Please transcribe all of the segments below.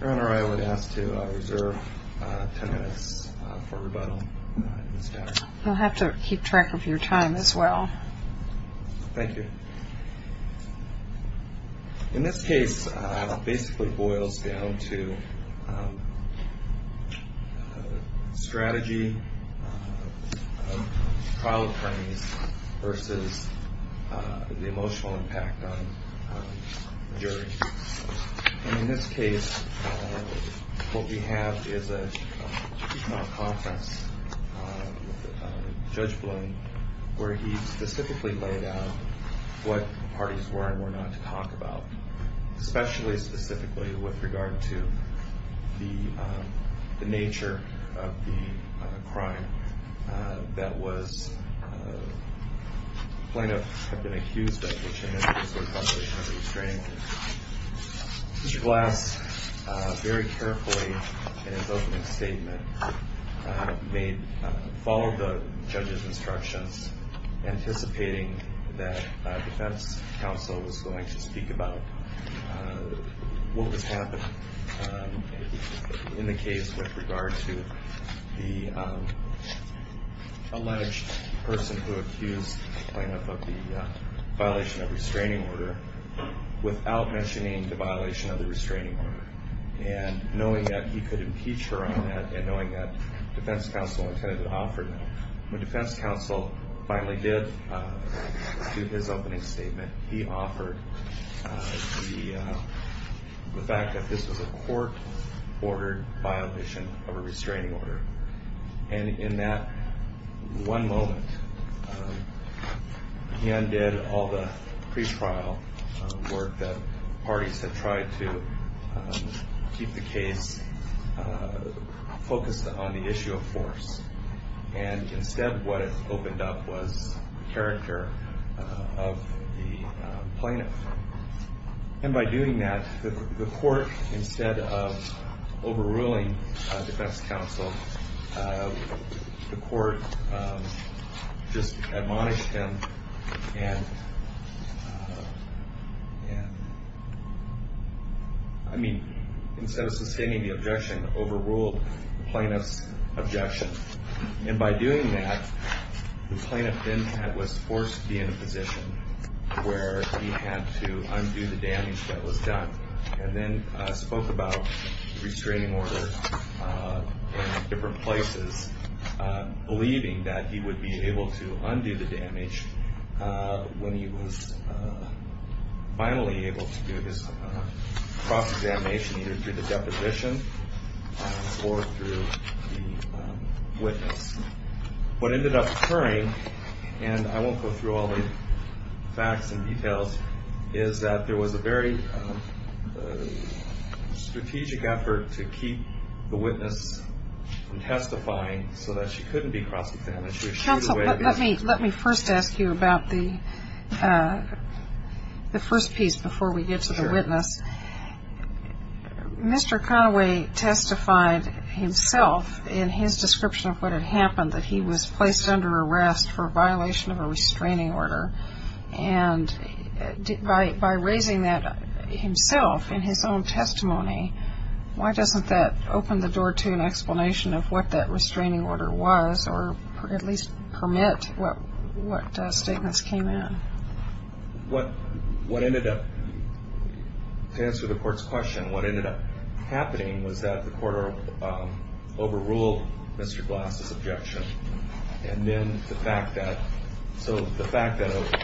Your Honor, I would ask to reserve 10 minutes for rebuttal in this case. You'll have to keep track of your time as well. Thank you. In this case, it basically boils down to strategy of trial attorneys versus the emotional impact on the jury. In this case, what we have is a conference with Judge Blaine where he specifically laid out what parties were and were not to talk about, especially specifically with regard to the nature of the crime. The plaintiff had been accused of which in this case was probably under restraint. Mr. Glass, very carefully in his opening statement, followed the judge's instructions, anticipating that defense counsel was going to speak about what was happening in the case with regard to the alleged person who accused the plaintiff of the violation of restraining order without mentioning the violation of the restraining order. And knowing that he could impeach her on that and knowing that defense counsel intended to offer that, when defense counsel finally did his opening statement, he offered the fact that this was a court-ordered violation of a restraining order. And in that one moment, he undid all the pre-trial work that parties had tried to keep the case focused on the issue of force. And instead what it opened up was the character of the plaintiff. And by doing that, the court, instead of overruling defense counsel, the court just admonished him and, yeah, I mean, instead of sustaining the objection, overruled the plaintiff's objection. And by doing that, the plaintiff then was forced to be in a position where he had to undo the damage that was done and then spoke about the restraining order in different places, believing that he would be able to undo the damage when he was finally able to do his cross-examination, either through the deposition or through the witness. What ended up occurring, and I won't go through all the facts and details, is that there was a very strategic effort to keep the witness from testifying so that she couldn't be cross-examined. Counsel, let me first ask you about the first piece before we get to the witness. Mr. Conaway testified himself in his description of what had happened, that he was placed under arrest for a violation of a restraining order. And by raising that himself in his own testimony, why doesn't that open the door to an explanation of what that restraining order was or at least permit what statements came in? What ended up, to answer the court's question, what ended up happening was that the court overruled Mr. Glass's objection. And then the fact that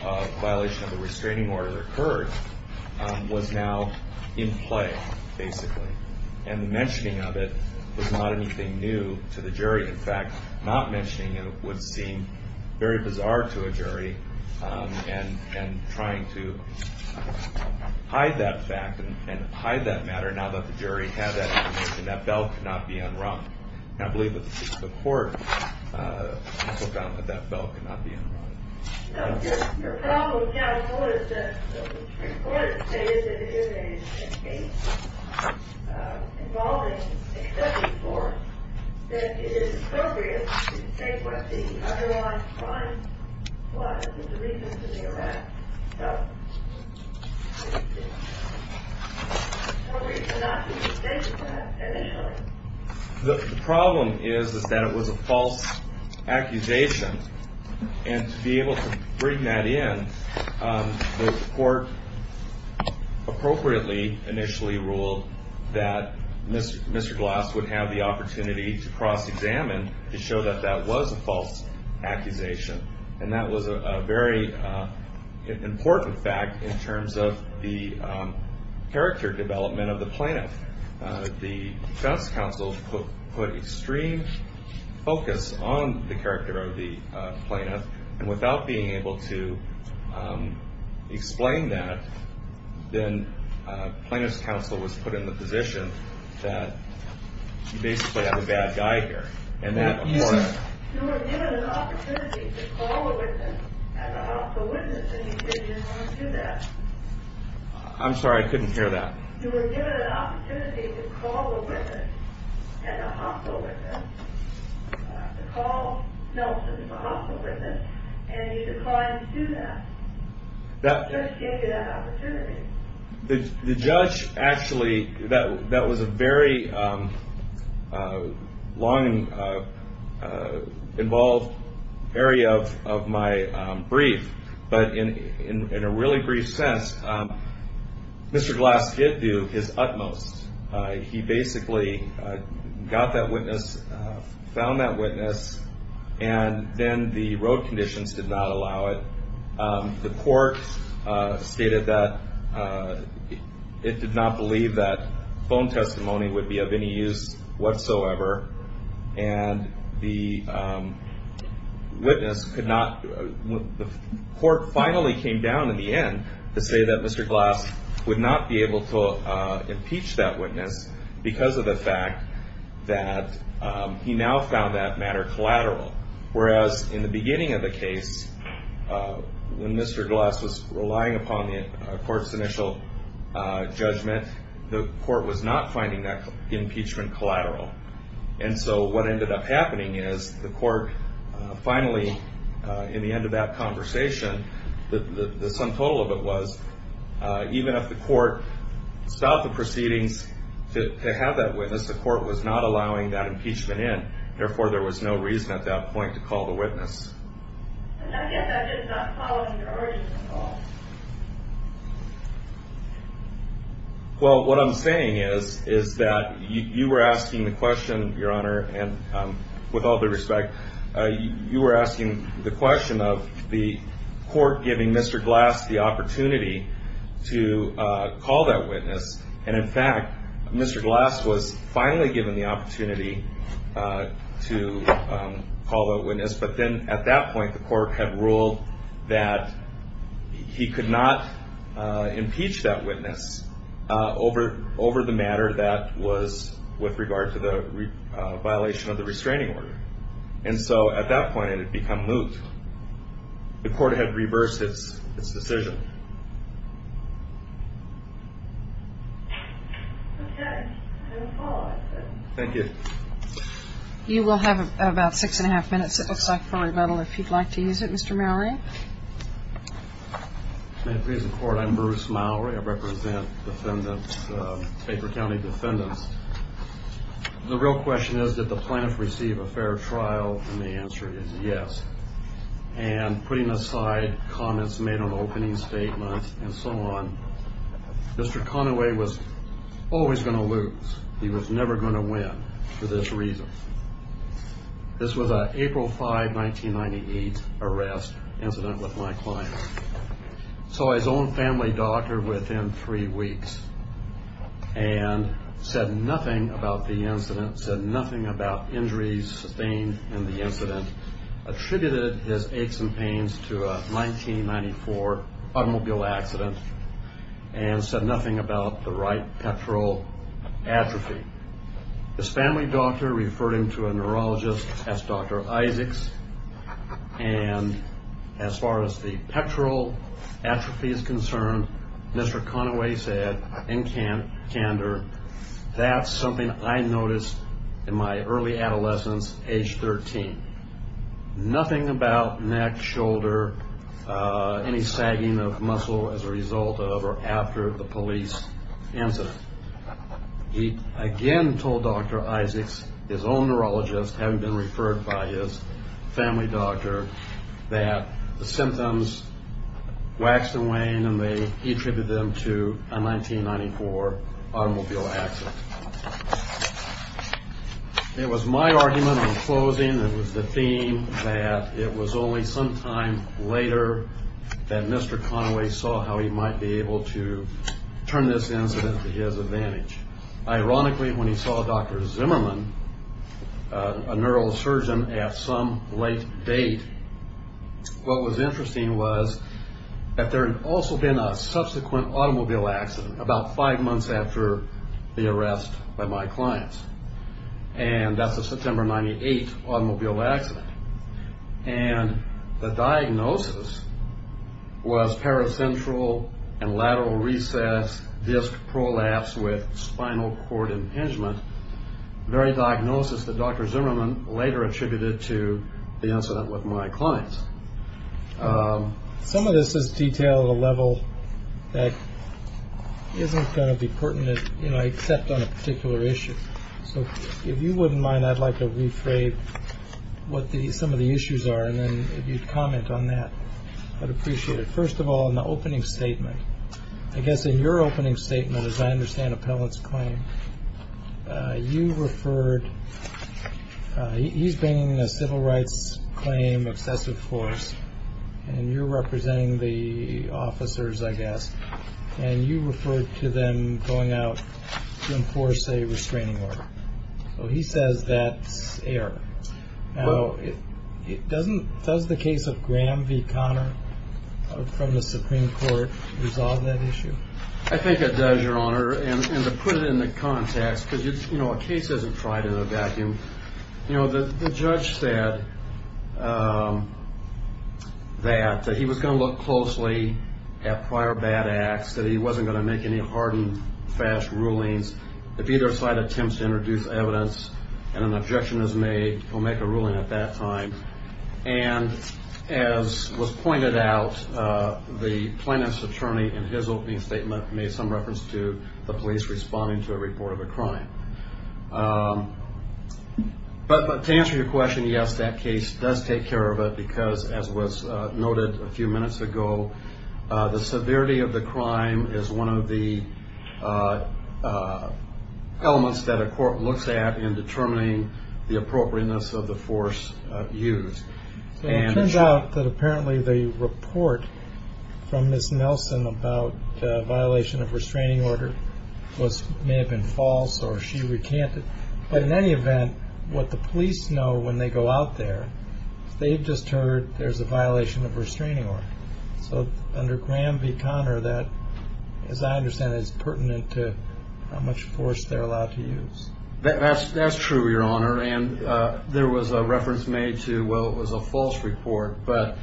a violation of a restraining order occurred was now in play, basically. And the mentioning of it was not anything new to the jury. In fact, not mentioning it would seem very bizarre to a jury and trying to hide that fact and hide that matter now that the jury had that information. That bell could not be unrung. And I believe that the court took out that that bell could not be unrung. Your problem now is that the Supreme Court is saying that if it is a case involving a sentencing force, that it is appropriate to state what the otherwise fine was, the reason for the arrest, so it's appropriate to not state that initially. The problem is that it was a false accusation. And to be able to bring that in, the court appropriately initially ruled that Mr. Glass would have the opportunity to cross-examine to show that that was a false accusation. And that was a very important fact in terms of the character development of the plaintiff. The defense counsel put extreme focus on the character of the plaintiff. And without being able to explain that, then plaintiff's counsel was put in the position that you basically have a bad guy here. You were given an opportunity to call a witness, as a house of witness, and you said you didn't want to do that. I'm sorry, I couldn't hear that. You were given an opportunity to call a witness, as a house of witness, to call Nelson as a house of witness, and you declined to do that. The judge gave you that opportunity. The judge actually, that was a very long and involved area of my brief. But in a really brief sense, Mr. Glass did do his utmost. He basically got that witness, found that witness, and then the road conditions did not allow it. The court stated that it did not believe that phone testimony would be of any use whatsoever. And the court finally came down in the end to say that Mr. Glass would not be able to impeach that witness because of the fact that he now found that matter collateral. Whereas in the beginning of the case, when Mr. Glass was relying upon the court's initial judgment, the court was not finding that impeachment collateral. And so what ended up happening is the court finally, in the end of that conversation, the sum total of it was even if the court stopped the proceedings to have that witness, the court was not allowing that impeachment in. Therefore, there was no reason at that point to call the witness. Well, what I'm saying is that you were asking the question, Your Honor, and with all due respect, you were asking the question of the court giving Mr. Glass the opportunity to call that witness. And in fact, Mr. Glass was finally given the opportunity to call that witness. But then at that point, the court had ruled that he could not impeach that witness over the matter that was with regard to the violation of the restraining order. And so at that point, it had become moot. The court had reversed its decision. Thank you. You will have about six and a half minutes, it looks like, for rebuttal if you'd like to use it. Mr. Mallory? May it please the Court, I'm Bruce Mallory. I represent defendants, Baker County defendants. The real question is did the plaintiffs receive a fair trial, and the answer is yes. And putting aside comments made on opening statements and so on, Mr. Conaway was always going to lose. He was never going to win for this reason. This was an April 5, 1998 arrest incident with my client. Saw his own family doctor within three weeks and said nothing about the incident, said nothing about injuries sustained in the incident, attributed his aches and pains to a 1994 automobile accident, and said nothing about the right pectoral atrophy. His family doctor referred him to a neurologist, asked Dr. Isaacs, and as far as the pectoral atrophy is concerned, Mr. Conaway said in candor, that's something I noticed in my early adolescence, age 13. Nothing about neck, shoulder, any sagging of muscle as a result of or after the police incident. He again told Dr. Isaacs, his own neurologist, having been referred by his family doctor, that the symptoms waxed and waned, and he attributed them to a 1994 automobile accident. It was my argument in closing that it was the theme that it was only sometime later that Mr. Conaway saw how he might be able to turn this incident to his advantage. Ironically, when he saw Dr. Zimmerman, a neurosurgeon, at some late date, what was interesting was that there had also been a subsequent automobile accident about five months after the arrest by my clients, and that's a September 98 automobile accident. And the diagnosis was paracentral and lateral recess disc prolapse with spinal cord impingement, the very diagnosis that Dr. Zimmerman later attributed to the incident with my clients. Some of this is detailed at a level that isn't going to be pertinent, you know, except on a particular issue. So if you wouldn't mind, I'd like to rephrase what some of the issues are, and then if you'd comment on that, I'd appreciate it. First of all, in the opening statement, I guess in your opening statement, as I understand Appellant's claim, you referred he's been in a civil rights claim excessive force and you're representing the officers, I guess. And you referred to them going out to enforce a restraining order. So he says that's error. It doesn't. Does the case of Graham v. Conner from the Supreme Court resolve that issue? I think it does, Your Honor. And to put it into context, because, you know, a case isn't tried in a vacuum. You know, the judge said that he was going to look closely at prior bad acts, that he wasn't going to make any hardened, fast rulings. If either side attempts to introduce evidence and an objection is made, he'll make a ruling at that time. And as was pointed out, the plaintiff's attorney, in his opening statement, made some reference to the police responding to a report of a crime. But to answer your question, yes, that case does take care of it because, as was noted a few minutes ago, the severity of the crime is one of the elements that a court looks at in determining the appropriateness of the force used. And it turns out that apparently the report from Ms. Nelson about the violation of restraining order may have been false or she recanted. But in any event, what the police know when they go out there, they've just heard there's a violation of restraining order. So under Graham v. Conner, that, as I understand it, is pertinent to how much force they're allowed to use. That's true, Your Honor. And there was a reference made to, well, it was a false report. But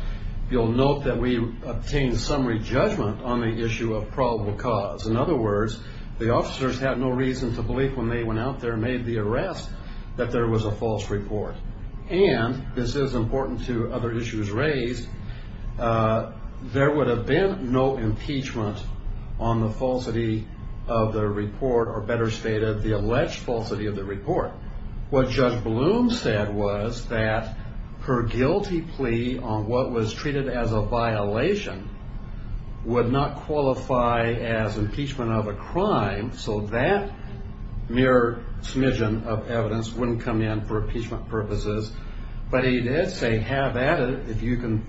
you'll note that we obtained summary judgment on the issue of probable cause. In other words, the officers had no reason to believe when they went out there and made the arrest that there was a false report. And this is important to other issues raised. There would have been no impeachment on the falsity of the report or, better stated, the alleged falsity of the report. What Judge Bloom said was that her guilty plea on what was treated as a violation would not qualify as impeachment of a crime. So that mere smidgen of evidence wouldn't come in for impeachment purposes. But he did say, have at it, if you can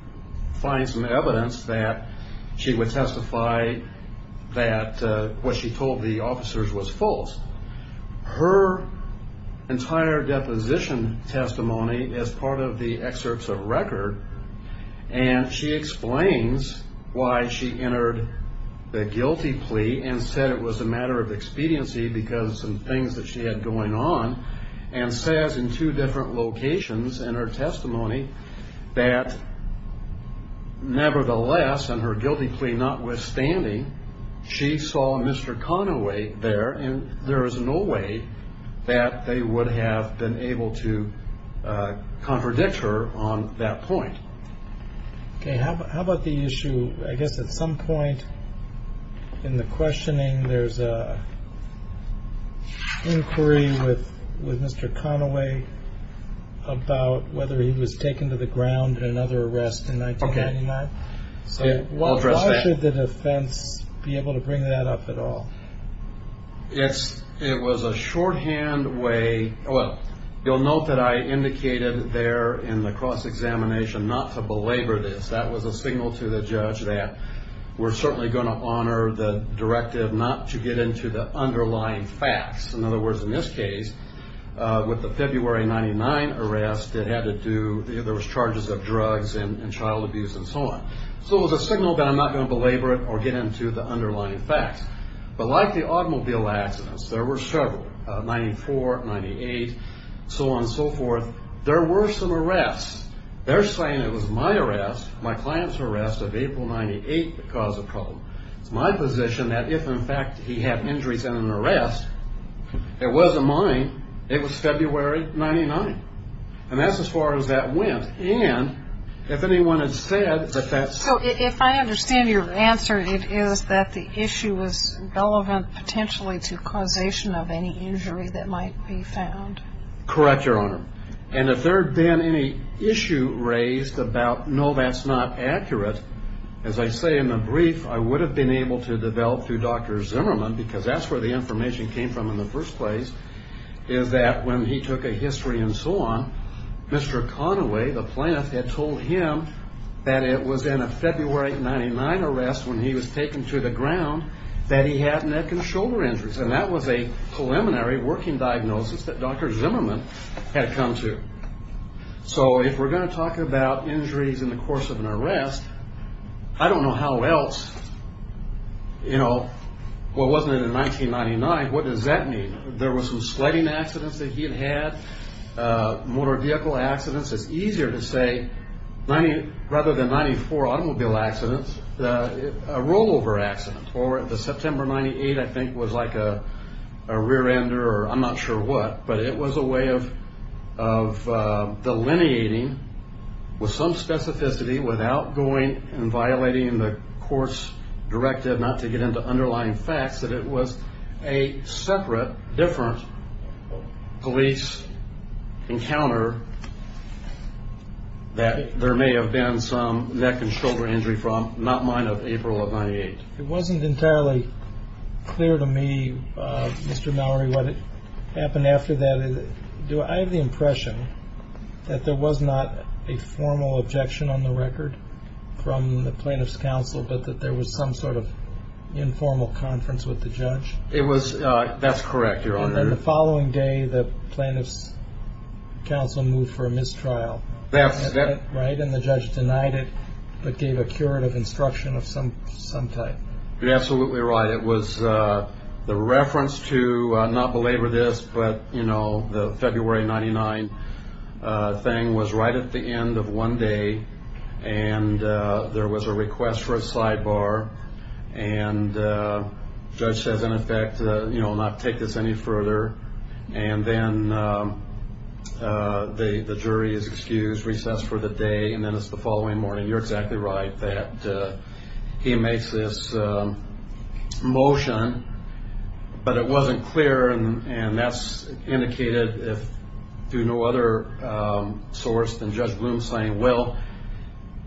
find some evidence that she would testify that what she told the officers was false. Her entire deposition testimony is part of the excerpts of record. And she explains why she entered the guilty plea and said it was a matter of expediency because of some things that she had going on, and says in two different locations in her testimony that, nevertheless, in her guilty plea notwithstanding, she saw Mr. Conaway there, and there is no way that they would have been able to contradict her on that point. Okay. How about the issue, I guess, at some point in the questioning, there's an inquiry with Mr. Conaway about whether he was taken to the ground in another arrest in 1999. Okay. I'll address that. Should the defense be able to bring that up at all? It's, it was a shorthand way, well, you'll note that I indicated there in the cross-examination not to belabor this. That was a signal to the judge that we're certainly going to honor the directive not to get into the underlying facts. In other words, in this case, with the February 99 arrest, it had to do, there was charges of drugs and child abuse and so on. So it was a signal that I'm not going to belabor it or get into the underlying facts. But like the automobile accidents, there were several, 94, 98, so on and so forth. There were some arrests. They're saying it was my arrest, my client's arrest of April 98 that caused the problem. It's my position that if, in fact, he had injuries in an arrest, it wasn't mine, it was February 99. And that's as far as that went. And if anyone had said that that's. So if I understand your answer, it is that the issue is relevant potentially to causation of any injury that might be found. Correct, Your Honor. And if there had been any issue raised about, no, that's not accurate, as I say in the brief, I would have been able to develop through Dr. Zimmerman, because that's where the information came from in the first place, is that when he took a history and so on, Mr. Conaway, the plaintiff, had told him that it was in a February 99 arrest when he was taken to the ground that he had neck and shoulder injuries. And that was a preliminary working diagnosis that Dr. Zimmerman had come to. So if we're going to talk about injuries in the course of an arrest, I don't know how else, you know, well, wasn't it in 1999? What does that mean? There was some sledding accidents that he had had, motor vehicle accidents. It's easier to say rather than 94 automobile accidents, a rollover accident. Or the September 98, I think, was like a rear ender or I'm not sure what, but it was a way of delineating with some specificity without going and violating the court's directive not to get into underlying facts, that it was a separate, different police encounter that there may have been some neck and shoulder injury from, not mine of April of 98. It wasn't entirely clear to me, Mr. Mallory, what happened after that. Do I have the impression that there was not a formal objection on the record from the plaintiff's counsel, but that there was some sort of informal conference with the judge? That's correct, Your Honor. And then the following day, the plaintiff's counsel moved for a mistrial, right? And the judge denied it, but gave a curative instruction of some type. You're absolutely right. It was the reference to, not belabor this, but, you know, the February 99 thing was right at the end of one day, and there was a request for a sidebar, and the judge says, in effect, you know, not take this any further, and then the jury is excused, recessed for the day, and then it's the following morning. You're exactly right that he makes this motion, but it wasn't clear, and that's indicated through no other source than Judge Bloom saying, well,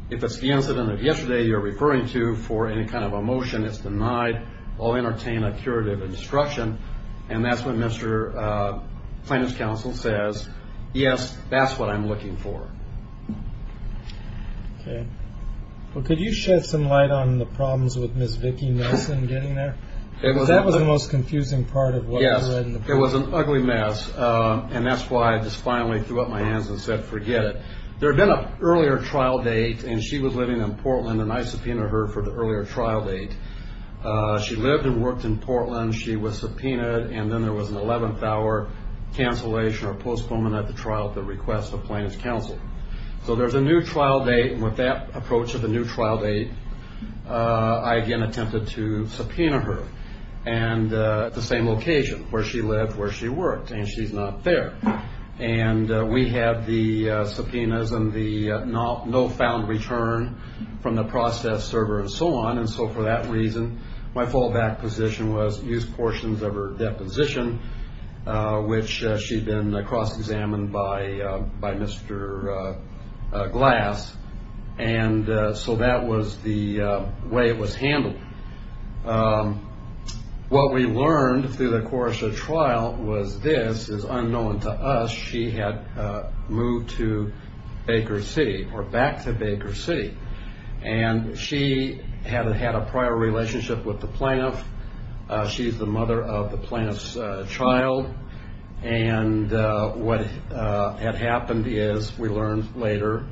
if it's the incident of yesterday you're referring to for any kind of a motion that's denied, I'll entertain a curative instruction, and that's when Mr. Plaintiff's counsel says, yes, that's what I'm looking for. Okay. Well, could you shed some light on the problems with Ms. Vicki Nelson getting there? Because that was the most confusing part of what you read in the book. Yes. It was an ugly mess, and that's why I just finally threw up my hands and said forget it. There had been an earlier trial date, and she was living in Portland, and I subpoenaed her for the earlier trial date. She lived and worked in Portland. She was subpoenaed, and then there was an 11th hour cancellation or postponement of the trial at the request of Plaintiff's counsel. So there's a new trial date, and with that approach of a new trial date, I again attempted to subpoena her at the same location where she lived, where she worked, and she's not there. And we have the subpoenas and the no found return from the process server and so on, and so for that reason my fallback position was use portions of her deposition, which she'd been cross-examined by Mr. Glass, and so that was the way it was handled. What we learned through the course of the trial was this is unknown to us. She had moved to Baker City or back to Baker City, and she had had a prior relationship with the plaintiff. She's the mother of the plaintiff's child, and what had happened is we learned later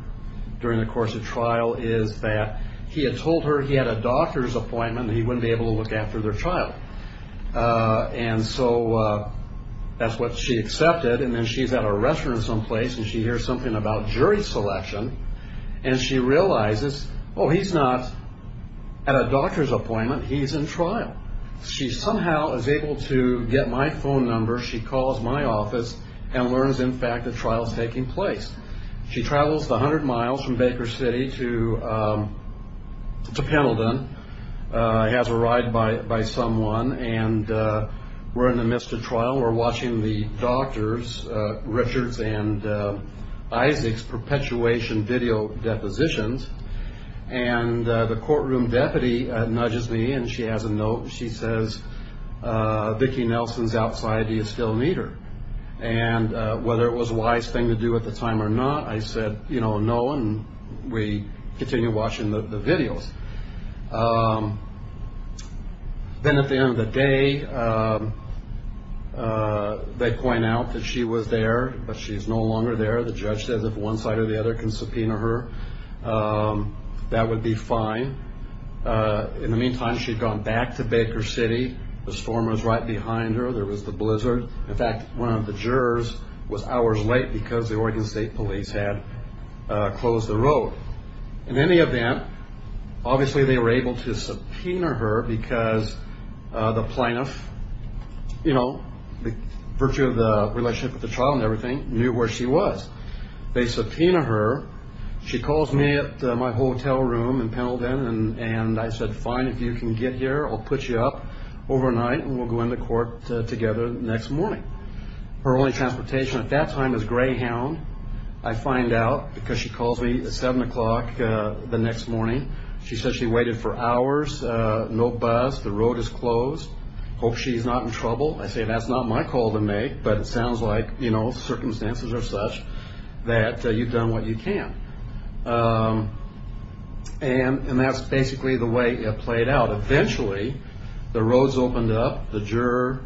during the course of trial is that he had told her he had a doctor's appointment and he wouldn't be able to look after their child, and so that's what she accepted, and then she's at a restaurant someplace, and she hears something about jury selection, and she realizes, oh, he's not at a doctor's appointment. He's in trial. She somehow is able to get my phone number. She calls my office and learns, in fact, the trial's taking place. She travels the hundred miles from Baker City to Pendleton, has a ride by someone, and we're in the midst of trial. We're watching the doctors, Richards and Isaac's perpetuation video depositions, and the courtroom deputy nudges me, and she has a note. She says, Vicki Nelson's outside. Do you still need her? And whether it was a wise thing to do at the time or not, I said, you know, no, and we continued watching the videos. Then at the end of the day, they point out that she was there, but she's no longer there. The judge says if one side or the other can subpoena her, that would be fine. In the meantime, she'd gone back to Baker City. The storm was right behind her. There was the blizzard. In fact, one of the jurors was hours late because the Oregon State Police had closed the road. In any event, obviously they were able to subpoena her because the plaintiff, you know, by virtue of the relationship with the trial and everything, knew where she was. They subpoenaed her. She calls me at my hotel room in Pendleton, and I said, fine, if you can get here, I'll put you up overnight, and we'll go into court together the next morning. Her only transportation at that time was Greyhound. I find out because she calls me at 7 o'clock the next morning. She says she waited for hours, no bus, the road is closed. I hope she's not in trouble. I say that's not my call to make, but it sounds like, you know, circumstances are such that you've done what you can. And that's basically the way it played out. Eventually the roads opened up, the juror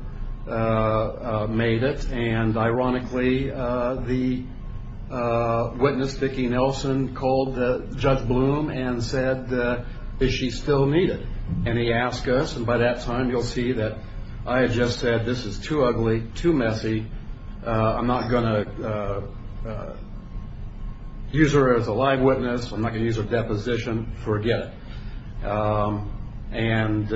made it, and ironically the witness, Vicki Nelson, called Judge Bloom and said, is she still needed? And he asked us, and by that time you'll see that I had just said this is too ugly, too messy. I'm not going to use her as a live witness. I'm not going to use her deposition. Forget it. And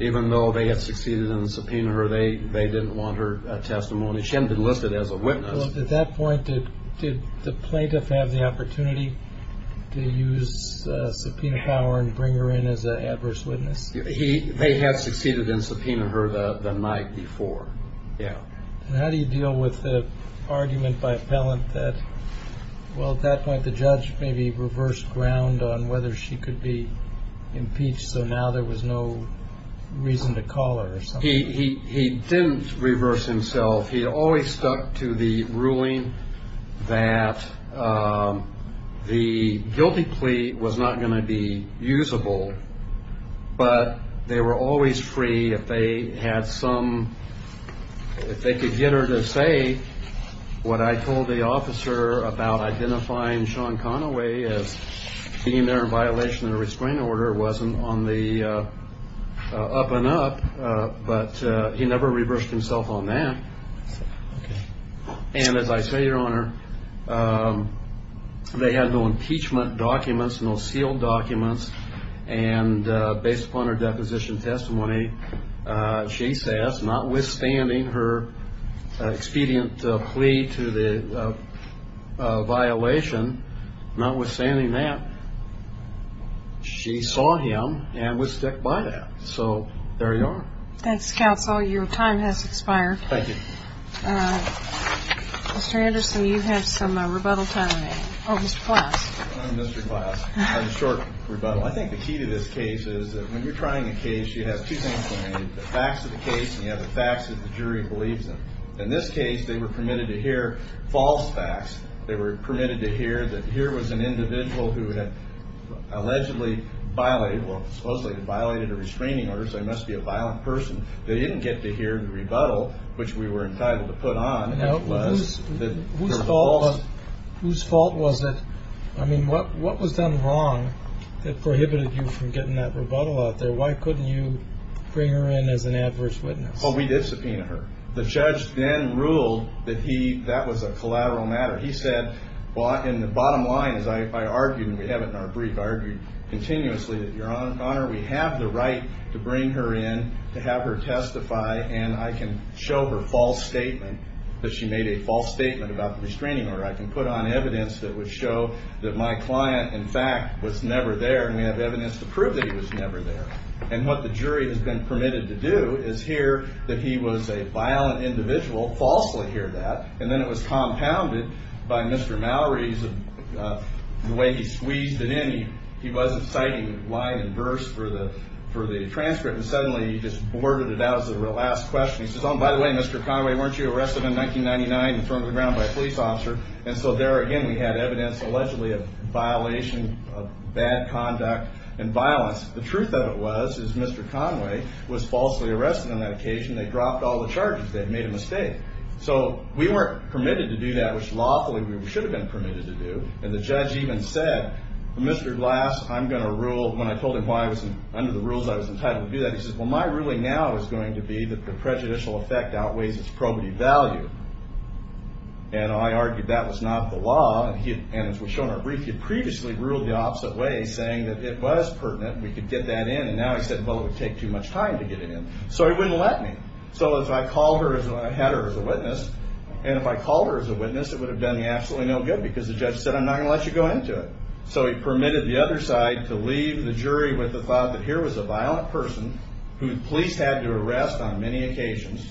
even though they had succeeded in subpoenaing her, they didn't want her testimony. She hadn't been listed as a witness. At that point, did the plaintiff have the opportunity to use subpoena power and bring her in as an adverse witness? They had succeeded in subpoenaing her the night before. Yeah. And how do you deal with the argument by a felon that, well, at that point the judge maybe reversed ground on whether she could be impeached, so now there was no reason to call her or something? He didn't reverse himself. He always stuck to the ruling that the guilty plea was not going to be usable, but they were always free. If they had some ‑‑ if they could get her to say what I told the officer about identifying Sean Conaway as being there in violation of the restraining order, it wasn't on the up and up, but he never reversed himself on that. And as I say, Your Honor, they had no impeachment documents, no sealed documents, and based upon her deposition testimony, she says, notwithstanding her expedient plea to the violation, notwithstanding that, she saw him and would stick by that. So there you are. Thanks, counsel. Your time has expired. Thank you. Mr. Anderson, you have some rebuttal time remaining. Oh, Mr. Glass. I'm Mr. Glass. I have a short rebuttal. I think the key to this case is that when you're trying a case, you have two things going on. You have the facts of the case and you have the facts that the jury believes in. In this case, they were permitted to hear false facts. They were permitted to hear that here was an individual who had allegedly violated or supposedly violated a restraining order, so he must be a violent person. They didn't get to hear the rebuttal, which we were entitled to put on. Whose fault was it? I mean, what was done wrong that prohibited you from getting that rebuttal out there? Why couldn't you bring her in as an adverse witness? Well, we did subpoena her. The judge then ruled that that was a collateral matter. He said in the bottom line, as I argued and we have it in our brief, argued continuously, that, Your Honor, we have the right to bring her in, to have her testify, and I can show her false statement that she made a false statement about the restraining order. I can put on evidence that would show that my client, in fact, was never there, and we have evidence to prove that he was never there. And what the jury has been permitted to do is hear that he was a violent individual, falsely hear that, and then it was compounded by Mr. Mallory's, the way he squeezed it in. He wasn't citing line and verse for the transcript, and suddenly he just worded it out as the last question. He says, Oh, by the way, Mr. Conway, weren't you arrested in 1999 and thrown to the ground by a police officer? And so there again we had evidence allegedly of violation, of bad conduct and violence. The truth of it was, is Mr. Conway was falsely arrested on that occasion. They dropped all the charges. They had made a mistake. So we weren't permitted to do that, which lawfully we should have been permitted to do, and the judge even said, Mr. Glass, I'm going to rule. When I told him why I was under the rules I was entitled to do that, he says, Well, my ruling now is going to be that the prejudicial effect outweighs its probity value. And I argued that was not the law, and as we show in our brief, he had previously ruled the opposite way, saying that it was pertinent, we could get that in, and now he said, Well, it would take too much time to get it in. So he wouldn't let me. So if I had her as a witness, and if I called her as a witness, it would have done me absolutely no good because the judge said, I'm not going to let you go into it. So he permitted the other side to leave the jury with the thought that here was a violent person who the police had to arrest on many occasions,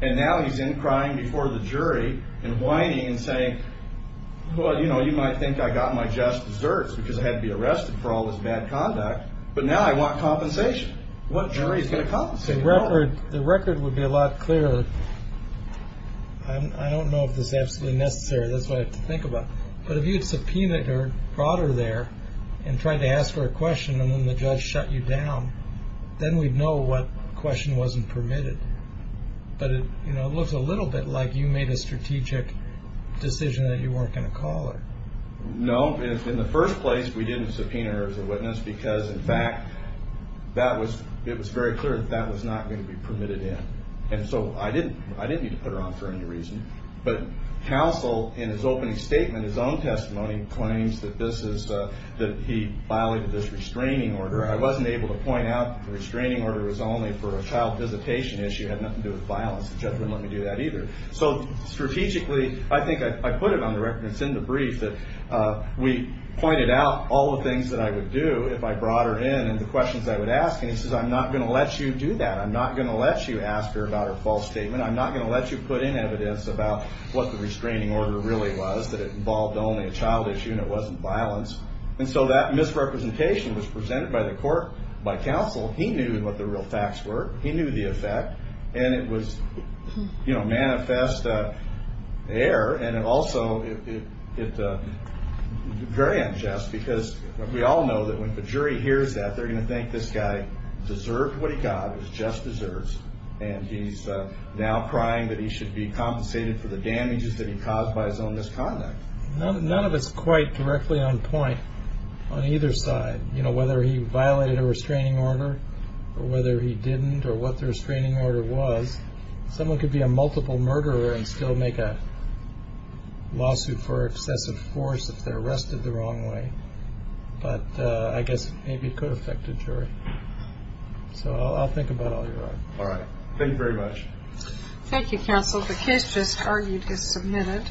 and now he's in crying before the jury and whining and saying, Well, you know, you might think I got my just desserts because I had to be arrested for all this bad conduct, but now I want compensation. What jury is going to compensate me? The record would be a lot clearer. I don't know if this is absolutely necessary. That's what I have to think about. But if you had subpoenaed or brought her there and tried to ask her a question, and then the judge shut you down, then we'd know what question wasn't permitted. But it looks a little bit like you made a strategic decision that you weren't going to call her. No. In the first place, we didn't subpoena her as a witness because, in fact, it was very clear that that was not going to be permitted in. And so I didn't need to put her on for any reason. But counsel, in his opening statement, his own testimony, claims that he violated this restraining order. I wasn't able to point out that the restraining order was only for a child visitation issue. It had nothing to do with violence. The judge wouldn't let me do that either. So strategically, I think I put it on the record, and it's in the brief, that we pointed out all the things that I would do if I brought her in and the questions I would ask. And he says, I'm not going to let you do that. I'm not going to let you ask her about her false statement. I'm not going to let you put in evidence about what the restraining order really was, that it involved only a child issue and it wasn't violence. And so that misrepresentation was presented by the court, by counsel. He knew what the real facts were. He knew the effect. And it was manifest error. And also, it's very unjust because we all know that when the jury hears that, they're going to think this guy deserved what he got, or just deserves, and he's now crying that he should be compensated for the damages that he caused by his own misconduct. None of it's quite directly on point on either side, whether he violated a restraining order or whether he didn't or what the restraining order was. Someone could be a multiple murderer and still make a lawsuit for excessive force if they're arrested the wrong way. But I guess maybe it could affect the jury. So I'll think about all you want. All right. Thank you very much. Thank you, counsel. The case just argued is submitted.